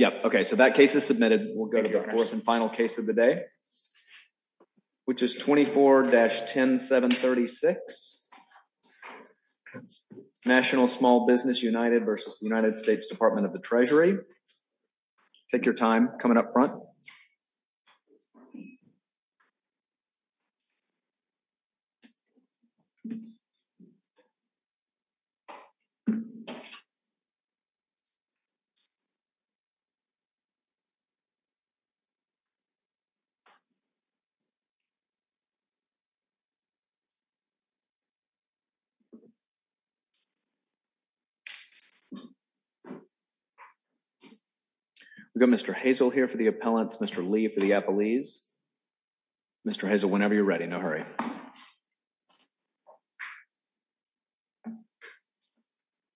is submitted. We'll go to of the day, which is 24-7 of the Treasury. Take you We've got Mr. Hazel here for the appellants, Mr. Lee for the appellees. Mr. Hazel, whenever you're ready, no hurry.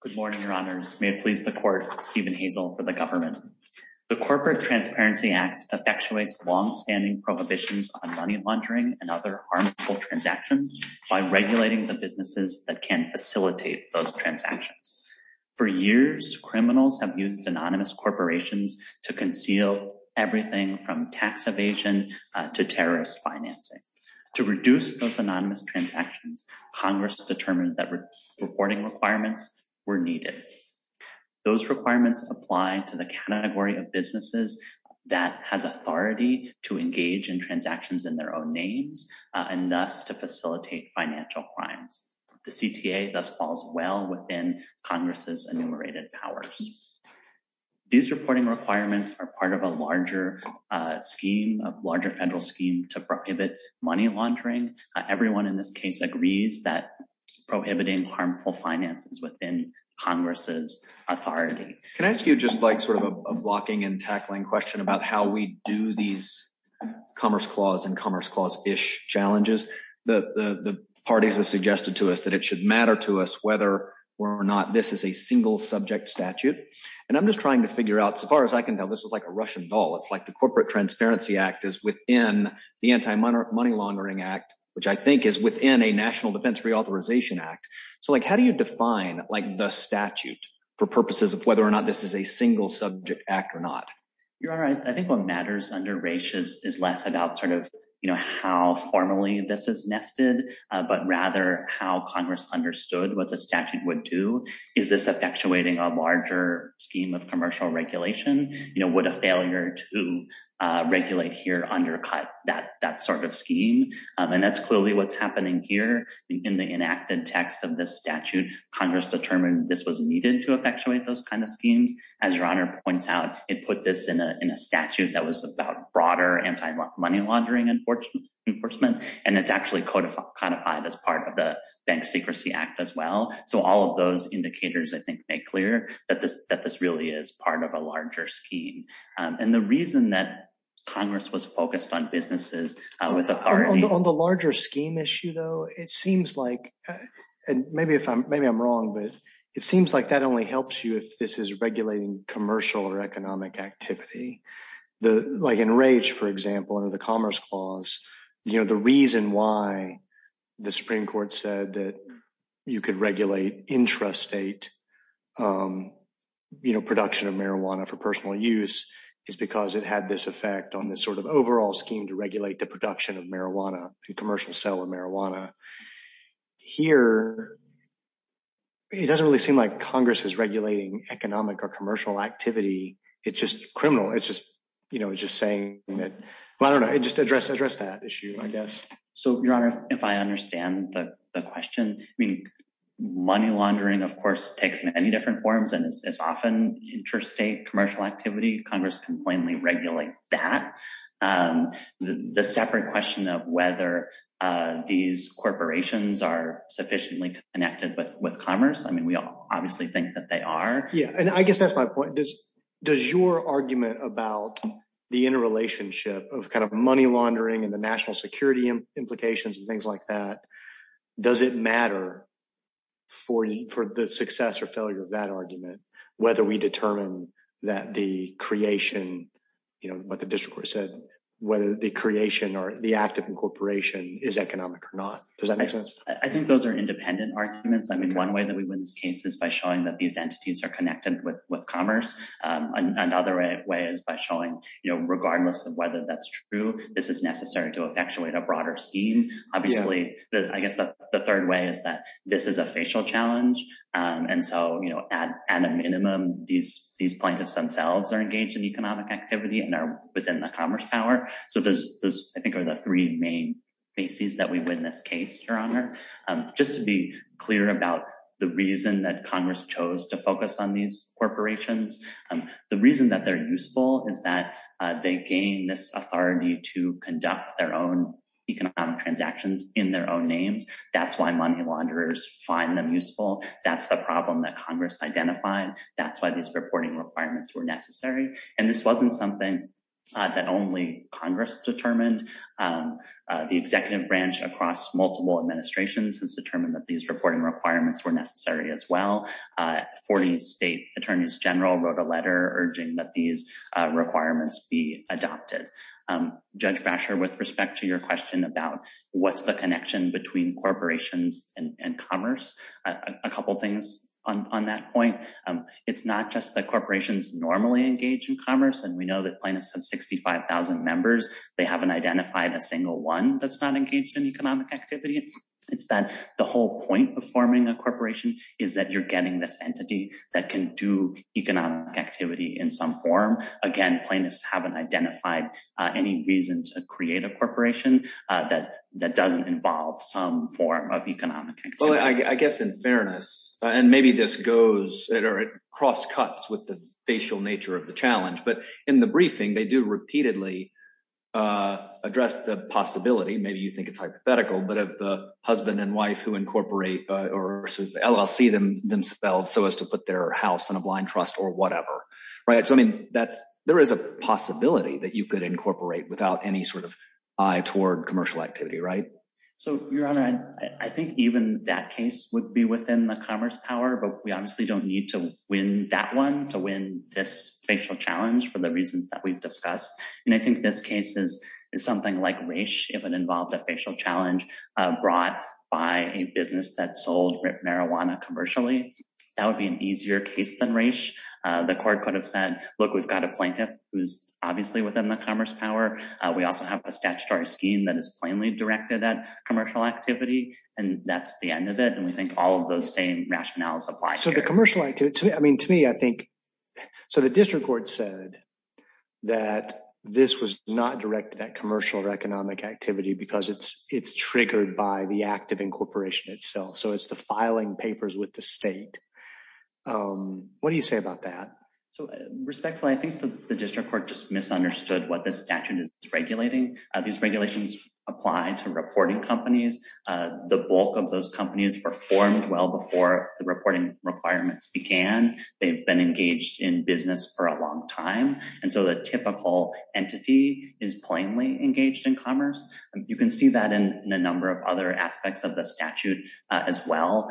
Good morning, your honors. May it please the court, Stephen Hazel for the government. The Corporate Transparency Act effectuates long-standing prohibitions on money laundering and other harmful transactions by regulating the businesses that can facilitate those transactions. For years, criminals have used anonymous corporations to conceal everything from tax evasion to terrorist financing. To reduce those anonymous transactions, Congress determined that reporting requirements were needed. Those requirements apply to the category of businesses that has authority to engage in transactions in their own names and thus to facilitate financial crimes. The CTA thus falls well within Congress's enumerated powers. These reporting requirements are part of a larger scheme, a larger federal scheme to prohibit money laundering. Everyone in this case agrees that prohibiting harmful finances within Congress's authority. Can I ask you just like sort of a blocking and tackling question about how we do these commerce clause and commerce clause-ish challenges? The parties have suggested to us that it should matter to us whether or not this is a single subject statute. And I'm just trying to figure out, so far as I can tell, this is like a Russian doll. It's like the Corporate Transparency Act is within the Anti-Money Laundering Act, which I think is within a National Defense Reauthorization Act. So how do you define the statute for purposes of whether or not this is a single subject act or not? Your Honor, I think what matters under Raich is less about sort of how formally this is nested, but rather how Congress understood what the statute would do. Is this effectuating a larger scheme of commercial regulation? Would a failure to regulate here undercut that sort of scheme? And that's clearly what's happening here in the enacted text of this statute. Congress determined this was needed to effectuate those kind of schemes. As Your Honor points out, it put this in a statute that was about broader anti-money laundering enforcement, and it's actually codified as part of the Bank Secrecy Act as well. So all of those indicators, I think, make clear that this really is part of a larger scheme. And the reason that Congress was focused on businesses with authority— On the larger scheme issue, it seems like, and maybe I'm wrong, but it seems like that only helps you if this is regulating commercial or economic activity. Like in Raich, for example, under the Commerce Clause, the reason why the Supreme Court said that you could regulate intrastate production of marijuana for personal use is because it had this effect on this sort of overall scheme to regulate the production of marijuana, commercial sale of marijuana. Here, it doesn't really seem like Congress is regulating economic or commercial activity. It's just criminal. It's just saying that— Well, I don't know. It just addressed that issue, I guess. So, Your Honor, if I understand the question, I mean, money laundering, of course, takes many different forms, and it's often intrastate commercial activity. Congress can plainly regulate that. The separate question of whether these corporations are sufficiently connected with commerce, I mean, we all obviously think that they are. Yeah, and I guess that's my point. Does your argument about the interrelationship of money laundering and the national security implications and things like that, does it matter for the success or failure of that argument whether we determine that the creation, what the district court said, whether the creation or the act of incorporation is economic or not? Does that make sense? I think those are independent arguments. I mean, one way that we win this case is by showing that these entities are connected with commerce. Another way is by showing, regardless of whether that's true, this is necessary to effectuate a broader scheme. Obviously, I guess the third way is that this is a facial challenge. And so, at a minimum, these plaintiffs themselves are engaged in economic activity and are within the commerce power. So, those, I think, are the three main bases that we win this case, Just to be clear about the reason that Congress chose to focus on these corporations, the reason that they're useful is that they gain this authority to conduct their own economic transactions in their own names. That's why money launderers find them useful. That's the problem that Congress identified. That's why these reporting requirements were necessary. And this wasn't something that only Congress determined. The executive branch across multiple administrations has determined that these reporting requirements were necessary as well. 40 state attorneys general wrote a letter urging that these requirements be adopted. Judge Basher, with respect to your question about what's the connection between corporations and commerce, a couple of things on that point. It's not just that corporations normally engage in commerce, and we know that plaintiffs have 65,000 members. They haven't identified a single one that's not engaged in economic activity. It's that the whole point of forming a corporation is that you're getting this entity that can do economic activity in some form. Again, plaintiffs haven't identified any reason to create a corporation that doesn't involve some form of economic activity. Well, I guess in fairness, and maybe this goes cross cuts with the facial nature of the challenge, but in the briefing, they do repeatedly address the possibility, maybe you think it's hypothetical, but of the husband and wife who incorporate or LLC themselves so as to put their house in a blind trust or whatever. There is a possibility that you could incorporate without any sort of eye toward commercial activity, right? So, Your Honor, I think even that case would be within the commerce power, but we obviously don't need to win that one to win this facial challenge for the reasons that we've discussed. And I think this case is something like race if it involved a facial challenge brought by a business that sold marijuana commercially. That would be an easier case than race. The court could have said, look, we've got a plaintiff who's obviously within the commerce power. We also have a statutory scheme that is plainly directed at commercial activity. And that's the end of it. And we think all of those same rationales apply. So the commercial activity, I mean, to me, I think. So the district court said that this was not directed at commercial or economic activity because it's triggered by the act of incorporation itself. So it's the filing papers with the state. What do you say about that? So respectfully, I think the district court just misunderstood what this statute is regulating. These regulations apply to reporting companies. The bulk of those companies performed well before the reporting requirements began. They've been engaged in business for a long time. And so the typical entity is plainly engaged in commerce. You can see that in a number of other aspects of the statute as well.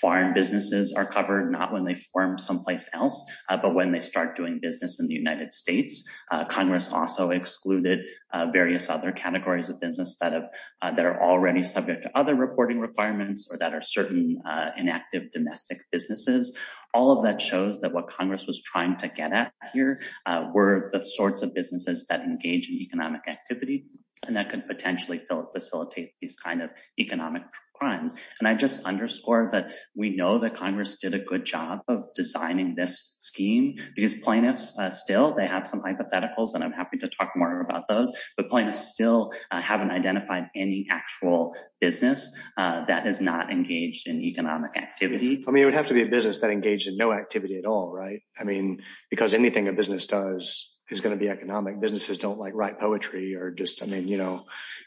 Foreign businesses are covered, not when they form someplace else, but when they start doing business in the United States. Congress also excluded various other categories of business that are already subject to other reporting requirements or that are certain inactive domestic businesses. All of that shows that what Congress was trying to get at here were the sorts of businesses that engage in economic activity and that could potentially facilitate these kind of economic crimes. And I just underscore that we know that Congress did a good job of designing this scheme because plaintiffs still, they have some hypotheticals and I'm happy to talk more about those. But plaintiffs still haven't identified any actual business that is not engaged in economic activity. I mean, it would have to be a business that engaged in no activity at all, right? I mean, because anything a business does is going to be economic. Businesses don't like write poetry or just, I mean, you know,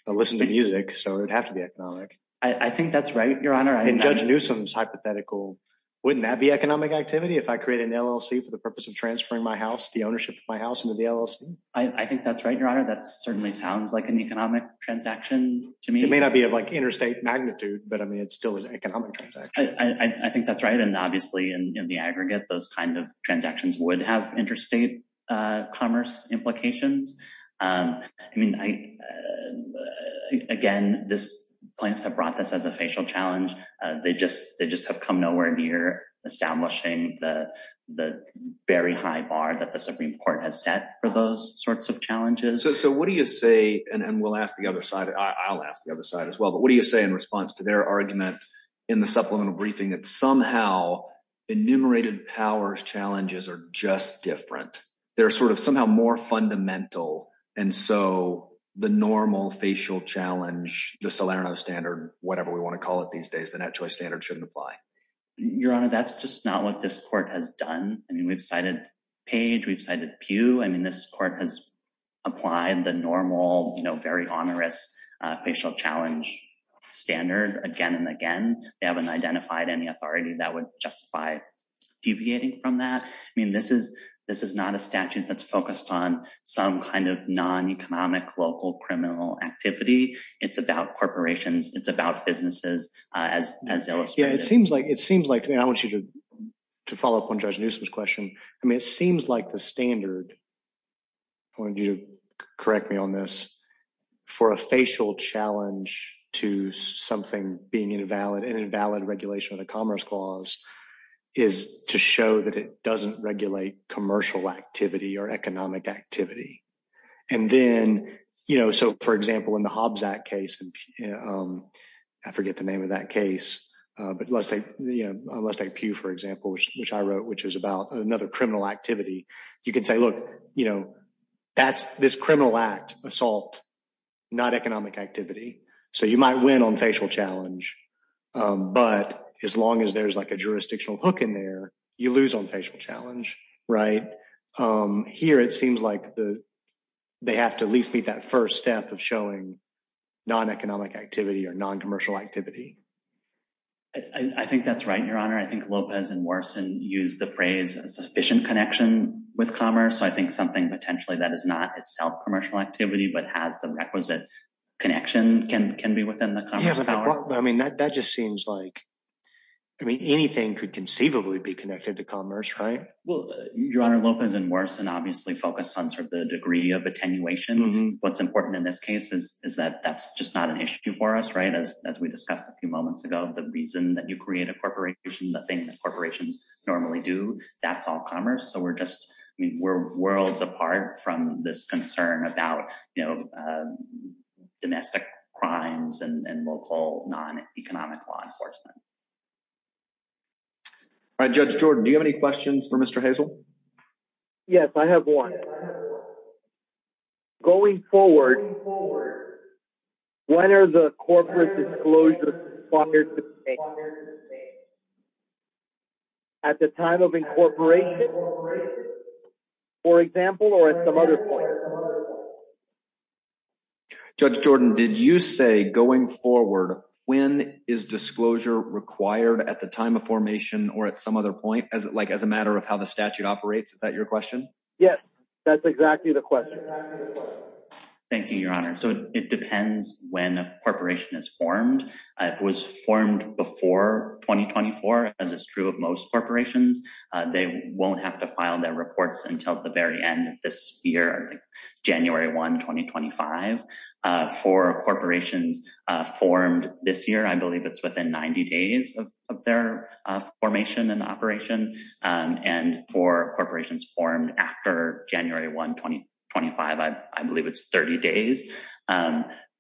listen to music. So it would have to be economic. I think that's right, Your Honor. In Judge Newsom's hypothetical, wouldn't that be economic activity if I create an LLC for the purpose of transferring my house, the ownership of my house into the LLC? I think that's right, Your Honor. That certainly sounds like an economic transaction to me. It may not be like interstate magnitude, but I mean, it's still an economic transaction. I think that's right. And obviously in the aggregate, those kinds of transactions would have interstate commerce implications. I mean, again, this plaintiffs have brought this as a facial challenge. They just have come nowhere near establishing the very high bar that the Supreme Court has set for those sorts of challenges. So what do you say, and we'll ask the other side, I'll ask the other side as well, but what do you say in response to their argument in the supplemental briefing that somehow enumerated powers challenges are just different? They're sort of somehow more fundamental. And so the normal facial challenge, the Salerno standard, whatever we want to call it these days, the net choice standard shouldn't apply. Your Honor, that's just not what this court has done. I mean, we've cited Page, we've cited Pugh. I mean, this court has applied the normal, you know, very onerous facial challenge standard again and again. They haven't identified any authority that would justify deviating from that. I mean, this is not a statute that's focused on some kind of non-economic local criminal activity. It's about corporations. It's about businesses as illustrated. Yeah, it seems like, and I want you to follow up on Judge Newsom's question. I mean, it seems like the standard, I want you to correct me on this, for a facial challenge to something being invalid, an invalid regulation of the Commerce Clause is to show that it doesn't regulate commercial activity or economic activity. And then, you know, so for example, in the Hobbs Act case, I forget the name of that case, but Lestat Pugh, for example, which I wrote, which was about another criminal activity. You could say, look, you know, that's this criminal act, assault, not economic activity. So you might win on facial challenge, but as long as there's like a jurisdictional hook in there, you lose on facial challenge, right? Here, it seems like they have to at least meet that first step of showing non-economic activity or non-commercial activity. I think that's right, Your Honor. I think Lopez and Morrison use the phrase a sufficient connection with commerce. So I think something potentially that is not itself commercial activity, but has the requisite connection can be within the Commerce Clause. I mean, that just seems like, I mean, anything could conceivably be connected to commerce, right? Well, Your Honor, Lopez and Morrison obviously focused on sort of the degree of attenuation. What's important in this case is that that's just not an issue for us, right? As we discussed a few moments ago, the reason that you create a corporation, the thing that corporations normally do, that's all commerce. So we're just, I mean, we're worlds apart from this concern about domestic crimes and local non-economic law enforcement. All right, Judge Jordan, do you have any questions for Mr. Hazel? Yes, I have one. Going forward, when are the corporate disclosures at the time of incorporation? For example, or at some other point? Judge Jordan, did you say going forward, when is disclosure required at the time of formation or at some other point, as like as a matter of how the statute operates? Is that your question? Yes, that's exactly the question. Thank you, Your Honor. So it depends when a corporation is formed. If it was formed before 2024, as is true of most corporations, they won't have to file their reports until the very end of this year, January 1, 2025. For corporations formed this year, I believe it's within 90 days of their formation and operation. And for corporations formed after January 1, 2025, I believe it's 30 days.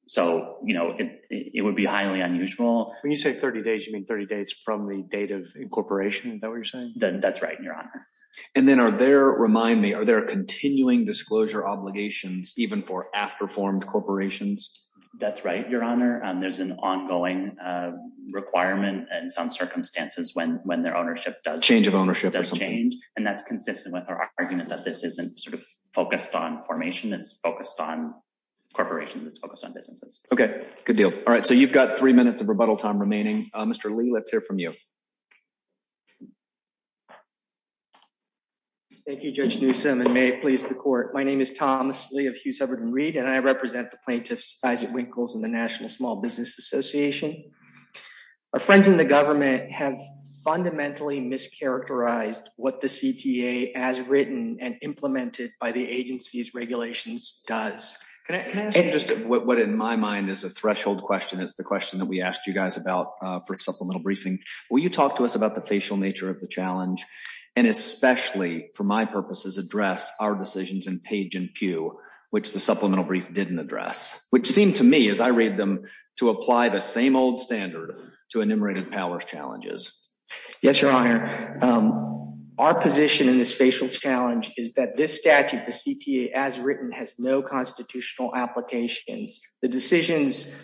So it would be highly unusual. When you say 30 days, you mean 30 days from the date of incorporation? Is that what you're saying? That's right, Your Honor. And then are there, remind me, are there continuing disclosure obligations even for after-formed corporations? That's right, Your Honor. There's an ongoing requirement and some circumstances when their ownership does change. Change of ownership or something. And that's consistent with our argument that this isn't sort of focused on formation. It's focused on corporations. It's focused on businesses. OK, good deal. All right, so you've got three minutes of rebuttal time remaining. Mr. Lee, let's hear from you. Thank you, Judge Newsom, and may it please the court. My name is Thomas Lee of Hughes, Hubbard & Reed, and I represent the plaintiffs, Isaac Winkles and the National Small Business Association. Our friends in the government have fundamentally mischaracterized what the CTA has written and implemented by the agency's regulations does. Can I ask you just what in my mind is a threshold question is the question that we asked you guys about for supplemental briefing. Will you talk to us about the facial nature of the challenge? And especially for my purposes, address our decisions in Page and Pew, which the supplemental brief didn't address, which seemed to me as I read them to apply the same old standard to enumerated powers challenges. Yes, Your Honor. Our position in this facial challenge is that this statute, the CTA as written, has no constitutional applications. The decisions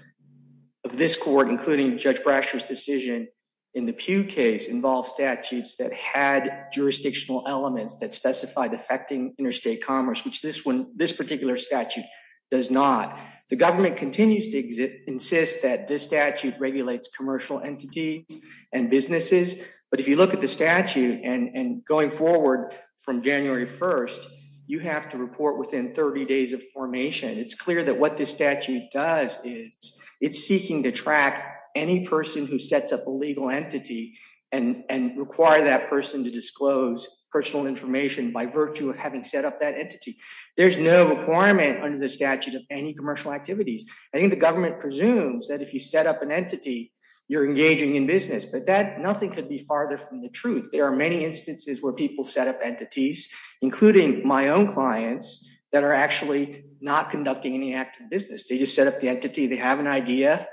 of this court, including Judge Brasher's decision in the Pew case involve statutes that had jurisdictional elements that specified affecting interstate commerce, which this one, this particular statute does not. The government continues to insist that this statute regulates commercial entities and businesses. But if you look at the statute and going forward from January 1st, you have to report within 30 days of formation. It's clear that what this statute does is it's seeking to track any person who sets up a legal entity and require that person to disclose personal information by virtue of having set up that entity. There's no requirement under the statute of any commercial activities. I think the government presumes that if you set up an entity, you're engaging in business, but that nothing could be farther from the truth. There are many instances where people set up entities, including my own clients that are actually not conducting any active business. They just set up the entity. They have an idea.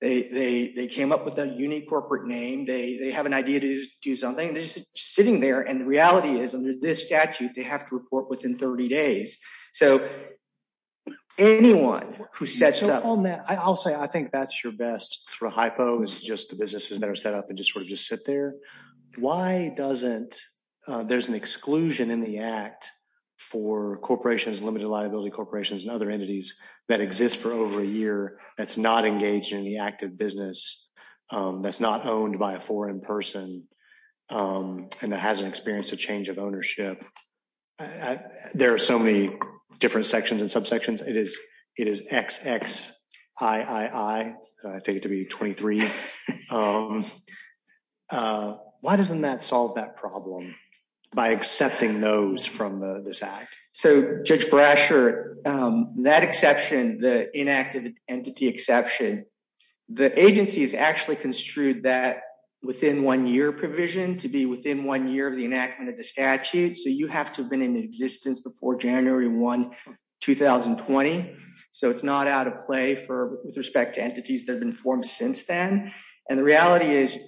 They came up with a unique corporate name. They have an idea to do something. They're just sitting there. And the reality is, under this statute, they have to report within 30 days. So anyone who sets up- So on that, I'll say, I think that's your best sort of hypo is just the businesses that are set up and just sort of just sit there. Why doesn't, there's an exclusion in the act for corporations, limited liability corporations and other entities that exist for over a year that's not engaged in the active business, that's not owned by a foreign person, and that hasn't experienced a change of ownership. There are so many different sections and subsections. It is XXIII, I take it to be 23. Why doesn't that solve that problem by accepting those from this act? So Judge Brasher, that exception, the inactive entity exception, the agency has actually construed that within one year provision to be within one year of the enactment of the statute. So you have to have been in existence before January 1, 2020. So it's not out of play for with respect to entities that have been formed since then. And the reality is,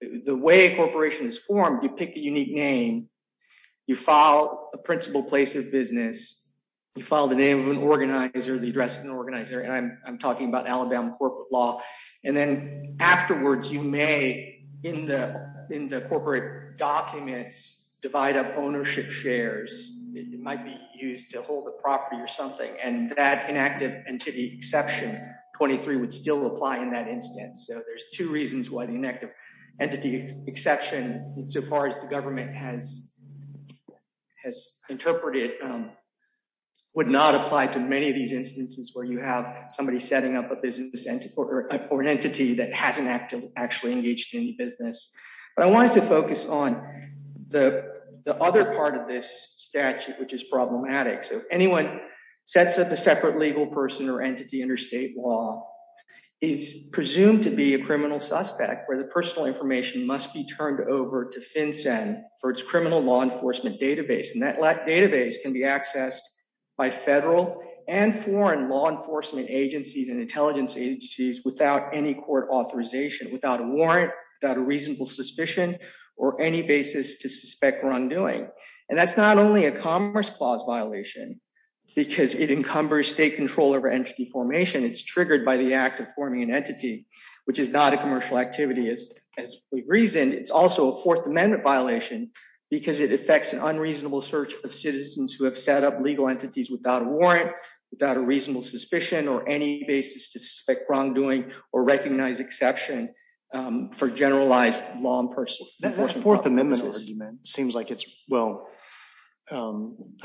the way a corporation is formed, you pick a unique name, you file a principal place of business, you file the name of an organizer, the address of an organizer. I'm talking about Alabama corporate law. And then afterwards, you may, in the corporate documents, divide up ownership shares. It might be used to hold a property or something, and that inactive entity exception XXIII would still apply in that instance. So there's two reasons why the inactive entity exception, so far as the government has interpreted, would not apply to many of these instances where you have somebody setting up a business entity that hasn't actually engaged in business. But I wanted to focus on the other part of this statute, which is problematic. So if anyone sets up a separate legal person or entity interstate law, is presumed to be a criminal suspect where the personal information must be turned over to FinCEN for its criminal law enforcement database. And that database can be accessed by federal and foreign law enforcement agencies and intelligence agencies without any court authorization, without a warrant, without a reasonable suspicion, or any basis to suspect wrongdoing. And that's not only a commerce clause violation, because it encumbers state control over entity formation. It's triggered by the act of forming an entity, which is not a commercial activity as we reasoned. It's also a Fourth Amendment violation because it affects an unreasonable search of citizens who have set up legal entities without a warrant, without a reasonable suspicion, or any basis to suspect wrongdoing or recognize exception for generalized law and personal... That Fourth Amendment argument seems like it's, well, I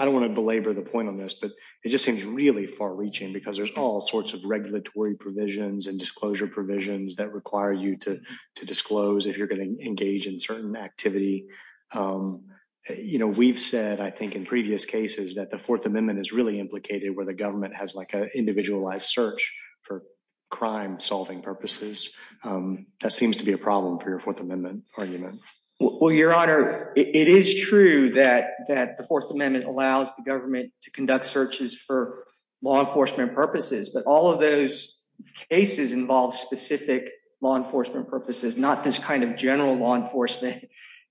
don't want to belabor the point on this, but it just seems really far reaching because there's all sorts of regulatory provisions and disclosure provisions that require you to disclose if you're going to engage in certain activity. We've said, I think, in previous cases that the Fourth Amendment is really implicated where the government has like an individualized search for crime solving purposes. That seems to be a problem for your Fourth Amendment argument. Well, Your Honor, it is true that the Fourth Amendment allows the government to conduct searches for law enforcement purposes, but all of those cases involve specific law enforcement purposes, not this kind of general law enforcement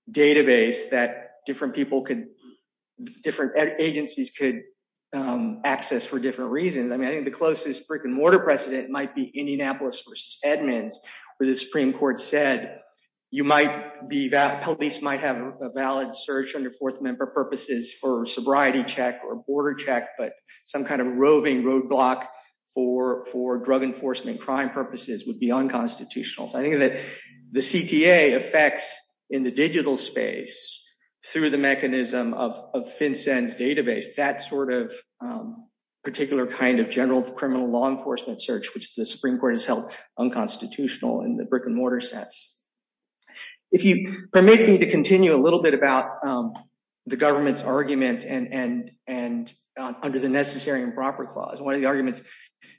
database that different people could, different agencies could access for different reasons. I mean, I think the closest brick and mortar precedent might be Indianapolis versus Edmonds, where the Supreme Court said you might be... Police might have a valid search under Fourth Amendment purposes for sobriety check or border check, but some kind of roving roadblock for drug enforcement crime purposes would be unconstitutional. So I think that the CTA affects in the digital space through the mechanism of FinCEN's database, that sort of particular kind of general criminal law enforcement search, which the Supreme Court has held unconstitutional in the brick and mortar sense. If you permit me to continue a little bit about the government's arguments and under the necessary improper clause, one of the arguments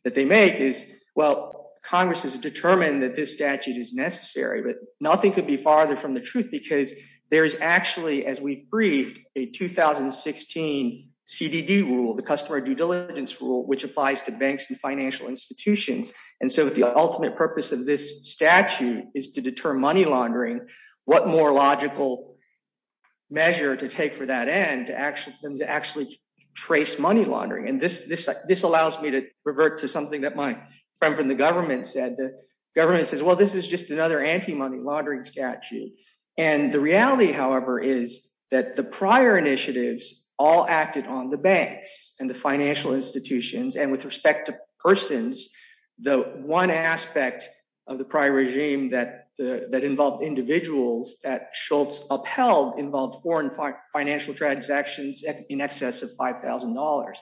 that they make is, well, Congress has determined that this statute is necessary, but nothing could be farther from the truth because there is actually, as we've briefed, a 2016 CDD rule, the Customer Due Diligence Rule, which applies to banks and financial institutions. And so the ultimate purpose of this statute is to deter money laundering. What more logical measure to take for that end to actually trace money laundering? And this allows me to revert to something that my friend from the government said. The government says, well, this is just another anti-money laundering statute. And the reality, however, is that the prior initiatives all acted on the banks and the financial institutions. And with respect to persons, the one aspect of the prior regime that involved individuals that Schultz upheld involved foreign financial transactions in excess of $5,000.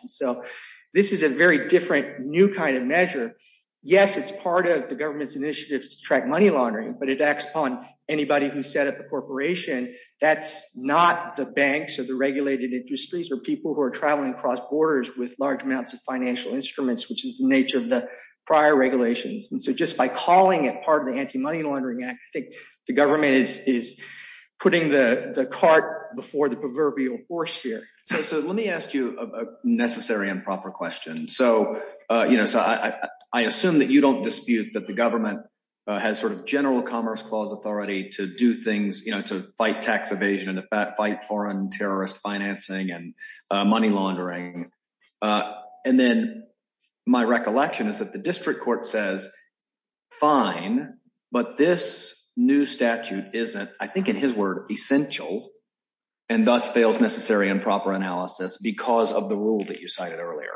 And so this is a very different, new kind of measure. Yes, it's part of the government's initiatives to track money laundering, but it acts upon anybody who set up a corporation. That's not the banks or the regulated industries or people who are traveling across borders with large amounts of financial instruments, which is the nature of the prior regulations. And so just by calling it part of the Anti-Money Laundering Act, I think the government is putting the cart before the proverbial horse here. So let me ask you a necessary and proper question. So, you know, so I assume that you don't dispute that the government has sort of general commerce clause authority to do things, you know, to fight tax evasion and to fight foreign terrorist financing and money laundering. And then my recollection is that the district court says, fine, but this new statute isn't, I think, in his word, essential and thus fails necessary and proper analysis because of the rule that you cited earlier.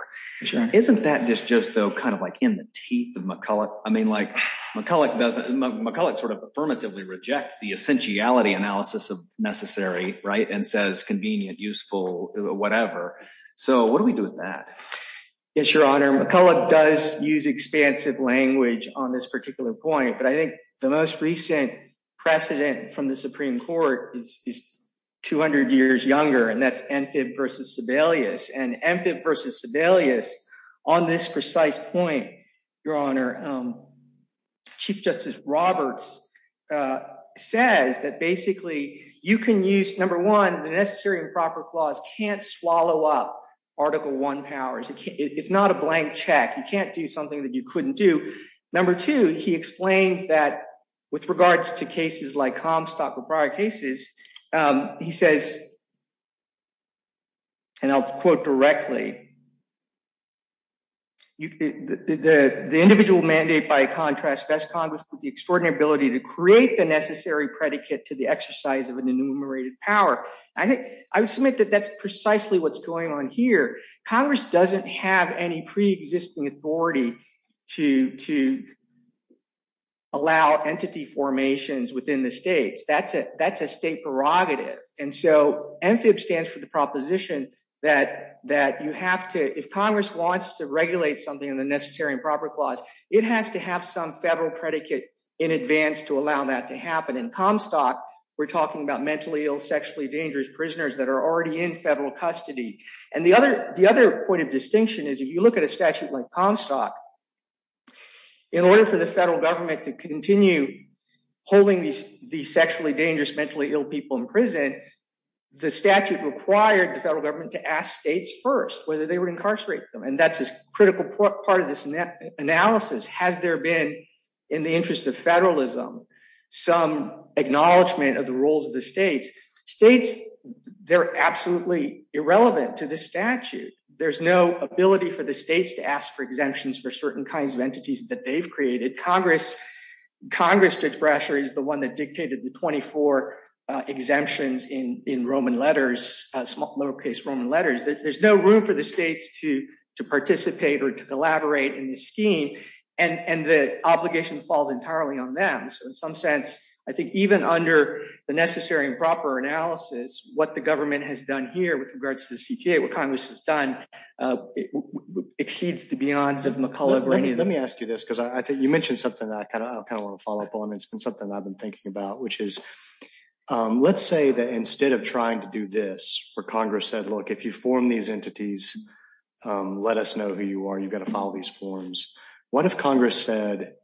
Isn't that just, though, kind of like in the teeth of McCulloch? I mean, like McCulloch doesn't McCulloch sort of affirmatively reject the essentiality analysis of necessary, right, and says convenient, useful, whatever. So what do we do with that? Yes, Your Honor. McCulloch does use expansive language on this particular point, but I think the most recent precedent from the Supreme Court is 200 years younger, and that's Amphib versus Sebelius. And Amphib versus Sebelius on this precise point, Your Honor, Chief Justice Roberts says that basically you can use, number one, the necessary and proper clause can't swallow up Article I powers. It's not a blank check. You can't do something that you couldn't do. Number two, he explains that with regards to cases like Comstock or prior cases, he says, and I'll quote directly, that the individual mandate by contrast best Congress with the extraordinary ability to create the necessary predicate to the exercise of an enumerated power. I think I would submit that that's precisely what's going on here. Congress doesn't have any pre-existing authority to allow entity formations within the states. That's a state prerogative. And so Amphib stands for the proposition that you have to have to if Congress wants to regulate something in the necessary and proper clause, it has to have some federal predicate in advance to allow that to happen. In Comstock, we're talking about mentally ill, sexually dangerous prisoners that are already in federal custody. And the other point of distinction is if you look at a statute like Comstock, in order for the federal government to continue holding these sexually dangerous, mentally ill people in prison, the statute required the federal government to ask states first whether they would incarcerate them. And that's a critical part of this analysis. Has there been, in the interest of federalism, some acknowledgment of the roles of the states? States, they're absolutely irrelevant to this statute. There's no ability for the states to ask for exemptions for certain kinds of entities that they've created. Congress, Judge Brasher, is the one that dictated the 24 exemptions in Roman letters, lowercase Roman letters. There's no room for the states to participate or to collaborate in this scheme. And the obligation falls entirely on them. So in some sense, I think even under the necessary and proper analysis, what the government has done here with regards to the CTA, what Congress has done, exceeds the beyonds of McCulloch. Let me ask you this, because I think you mentioned something that I kind of want to follow up on. It's been something I've been thinking about, which is, let's say that instead of trying to do this, where Congress said, if you form these entities, let us know who you are. You've got to follow these forms. What if Congress said,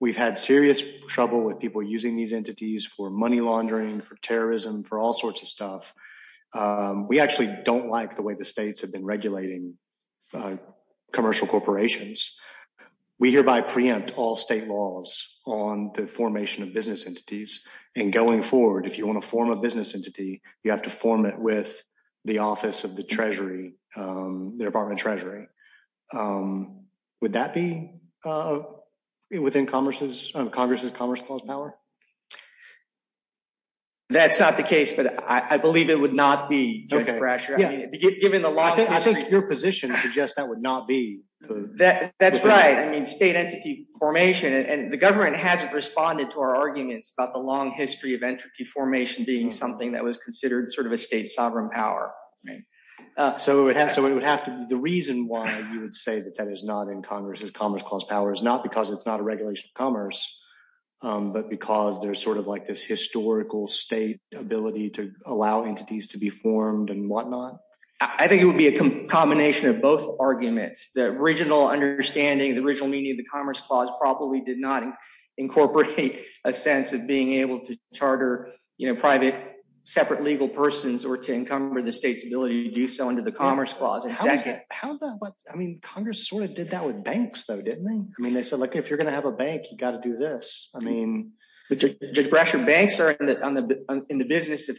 we've had serious trouble with people using these entities for money laundering, for terrorism, for all sorts of stuff. We actually don't like the way the states have been regulating commercial corporations. We hereby preempt all state laws on the formation of business entities. And going forward, if you want to form a business entity, you have to form it with the office of the Treasury, the Department of Treasury. Would that be within Congress's Commerce Clause power? That's not the case, but I believe it would not be, I mean, given the long history- I think your position suggests that would not be. That's right. I mean, state entity formation, and the government hasn't responded to our arguments about the long history of entity formation being something that was considered a state sovereign power. The reason why you would say that that is not in Congress's Commerce Clause power is not because it's not a regulation of commerce, but because there's this historical state ability to allow entities to be formed and whatnot. I think it would be a combination of both arguments. The original understanding, the original meaning of the Commerce Clause probably did not incorporate a sense of being able to charter private separate legal persons or to encumber the state's ability to do so under the Commerce Clause. I mean, Congress sort of did that with banks, though, didn't they? I mean, they said, look, if you're going to have a bank, you've got to do this. I mean, Judge Brasher, banks are in the business of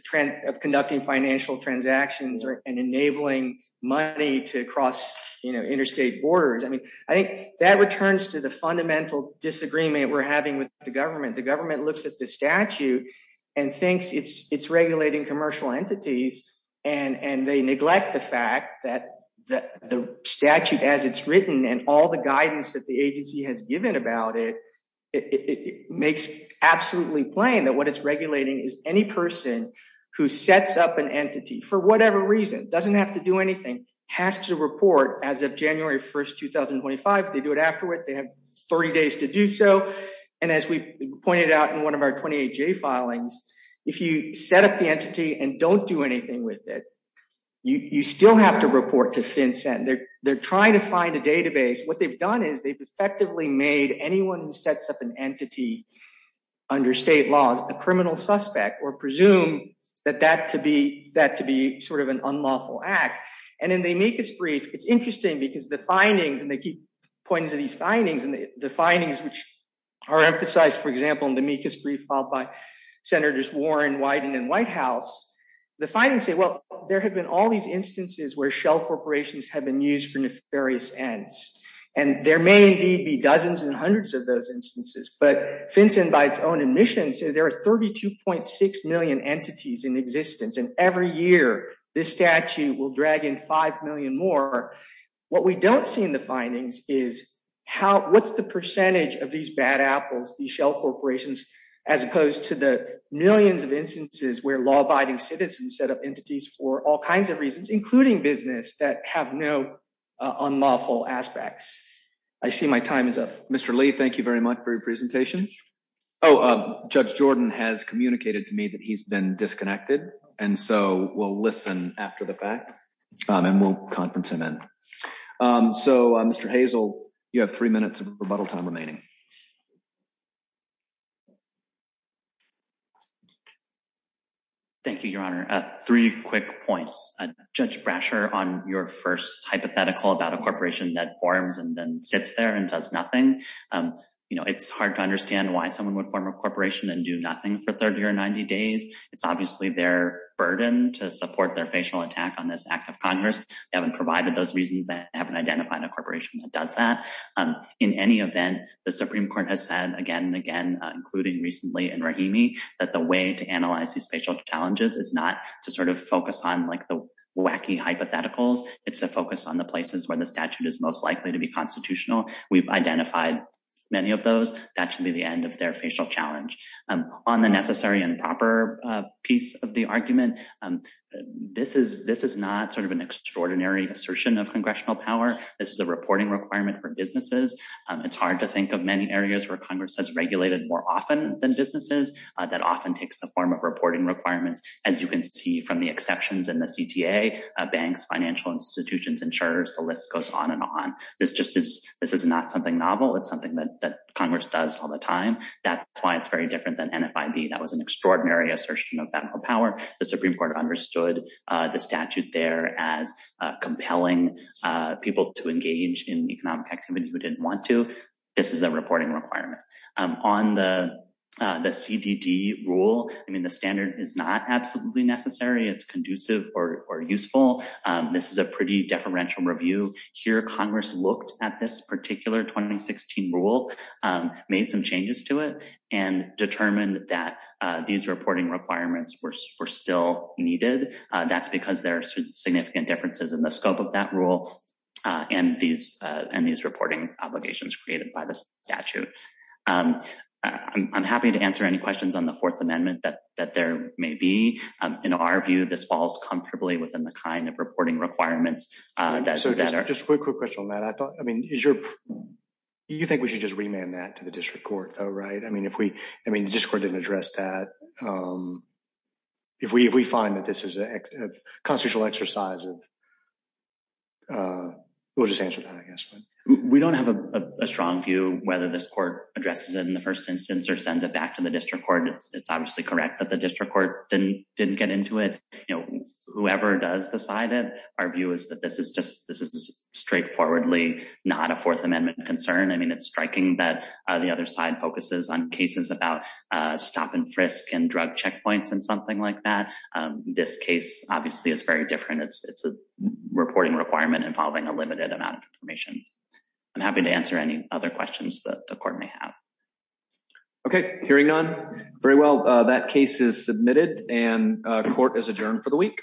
conducting financial transactions and enabling money to cross interstate borders. I mean, I think that returns to the fundamental disagreement we're having with the government. The government looks at the statute and thinks it's regulating commercial entities and they neglect the fact that the statute, as it's written, and all the guidance that the agency has given about it, it makes absolutely plain that what it's regulating is any person who sets up an entity for whatever reason, doesn't have to do anything, has to report as of January 1st, 2025. If they do it afterward, they have 30 days to do so. And as we pointed out in one of our 28J filings, if you set up the entity and don't do anything with it, you still have to report to FinCEN. They're trying to find a database. What they've done is they've effectively made anyone who sets up an entity under state laws a criminal suspect or presume that that to be sort of an unlawful act. And in the amicus brief, it's interesting because the findings, and they keep pointing to these findings, and the findings which are emphasized, for example, in the amicus brief filed by Senators Warren, Wyden and Whitehouse, the findings say, well, there have been all these instances where shell corporations have been used for nefarious ends. And there may indeed be dozens and hundreds of those instances. But FinCEN by its own admission, so there are 32.6 million entities in existence. And every year, this statute will drag in 5 million more. What we don't see in the findings is what's the percentage of these bad apples, these shell corporations, as opposed to the millions of instances where law-abiding citizens set up entities for all kinds of reasons, including business, that have no unlawful aspects. I see my time is up. Mr. Lee, thank you very much for your presentation. Oh, Judge Jordan has communicated to me that he's been disconnected. And so we'll listen after the fact. And we'll conference him in. So Mr. Hazel, you have three minutes of rebuttal time remaining. Thank you, Your Honor. Three quick points. Judge Brasher, on your first hypothetical about a corporation that forms and then sits there and does nothing, it's hard to understand why someone would form a corporation and do nothing for 30 or 90 days. It's obviously their burden to support their facial attack on this act of Congress. They haven't provided those reasons that haven't identified a corporation that does that. In any event, the Supreme Court has said, again, including recently in Rahimi, that the way to analyze these facial challenges is not to sort of focus on the wacky hypotheticals. It's a focus on the places where the statute is most likely to be constitutional. We've identified many of those. That should be the end of their facial challenge. On the necessary and proper piece of the argument, this is not sort of an extraordinary assertion of congressional power. This is a reporting requirement for businesses. It's hard to think of many areas where Congress has regulated more often than businesses that often takes the form of reporting requirements. As you can see from the exceptions in the CTA, banks, financial institutions, insurers, the list goes on and on. This is not something novel. It's something that Congress does all the time. That's why it's very different than NFID. That was an extraordinary assertion of federal power. The Supreme Court understood the statute there as compelling people to engage in economic activity who didn't want to. This is a reporting requirement. On the CDD rule, I mean, the standard is not absolutely necessary. It's conducive or useful. This is a pretty deferential review. Here, Congress looked at this particular 2016 rule, made some changes to it, and determined that these reporting requirements were still needed. That's because there are significant differences in the scope of that rule and these reporting obligations created by the statute. I'm happy to answer any questions on the Fourth Amendment that there may be. In our view, this falls comfortably within the kind of reporting requirements that are... Just a quick question on that. I thought, I mean, is your... You think we should just remand that to the district court, though, right? I mean, if we... I mean, the district court didn't address that. If we find that this is a constitutional exercise, we'll just answer that, I guess. We don't have a strong view whether this court addresses it in the first instance or sends it back to the district court. It's obviously correct that the district court didn't get into it. Whoever does decide it, our view is that this is just... This is straightforwardly not a Fourth Amendment concern. I mean, it's striking that the other side focuses on cases about stop and frisk and drug checkpoints and something like that. This case, obviously, is very different. It's a reporting requirement involving a limited amount of information. I'm happy to answer any other questions that the court may have. Okay, hearing none. Very well, that case is submitted and court is adjourned for the week. All rise.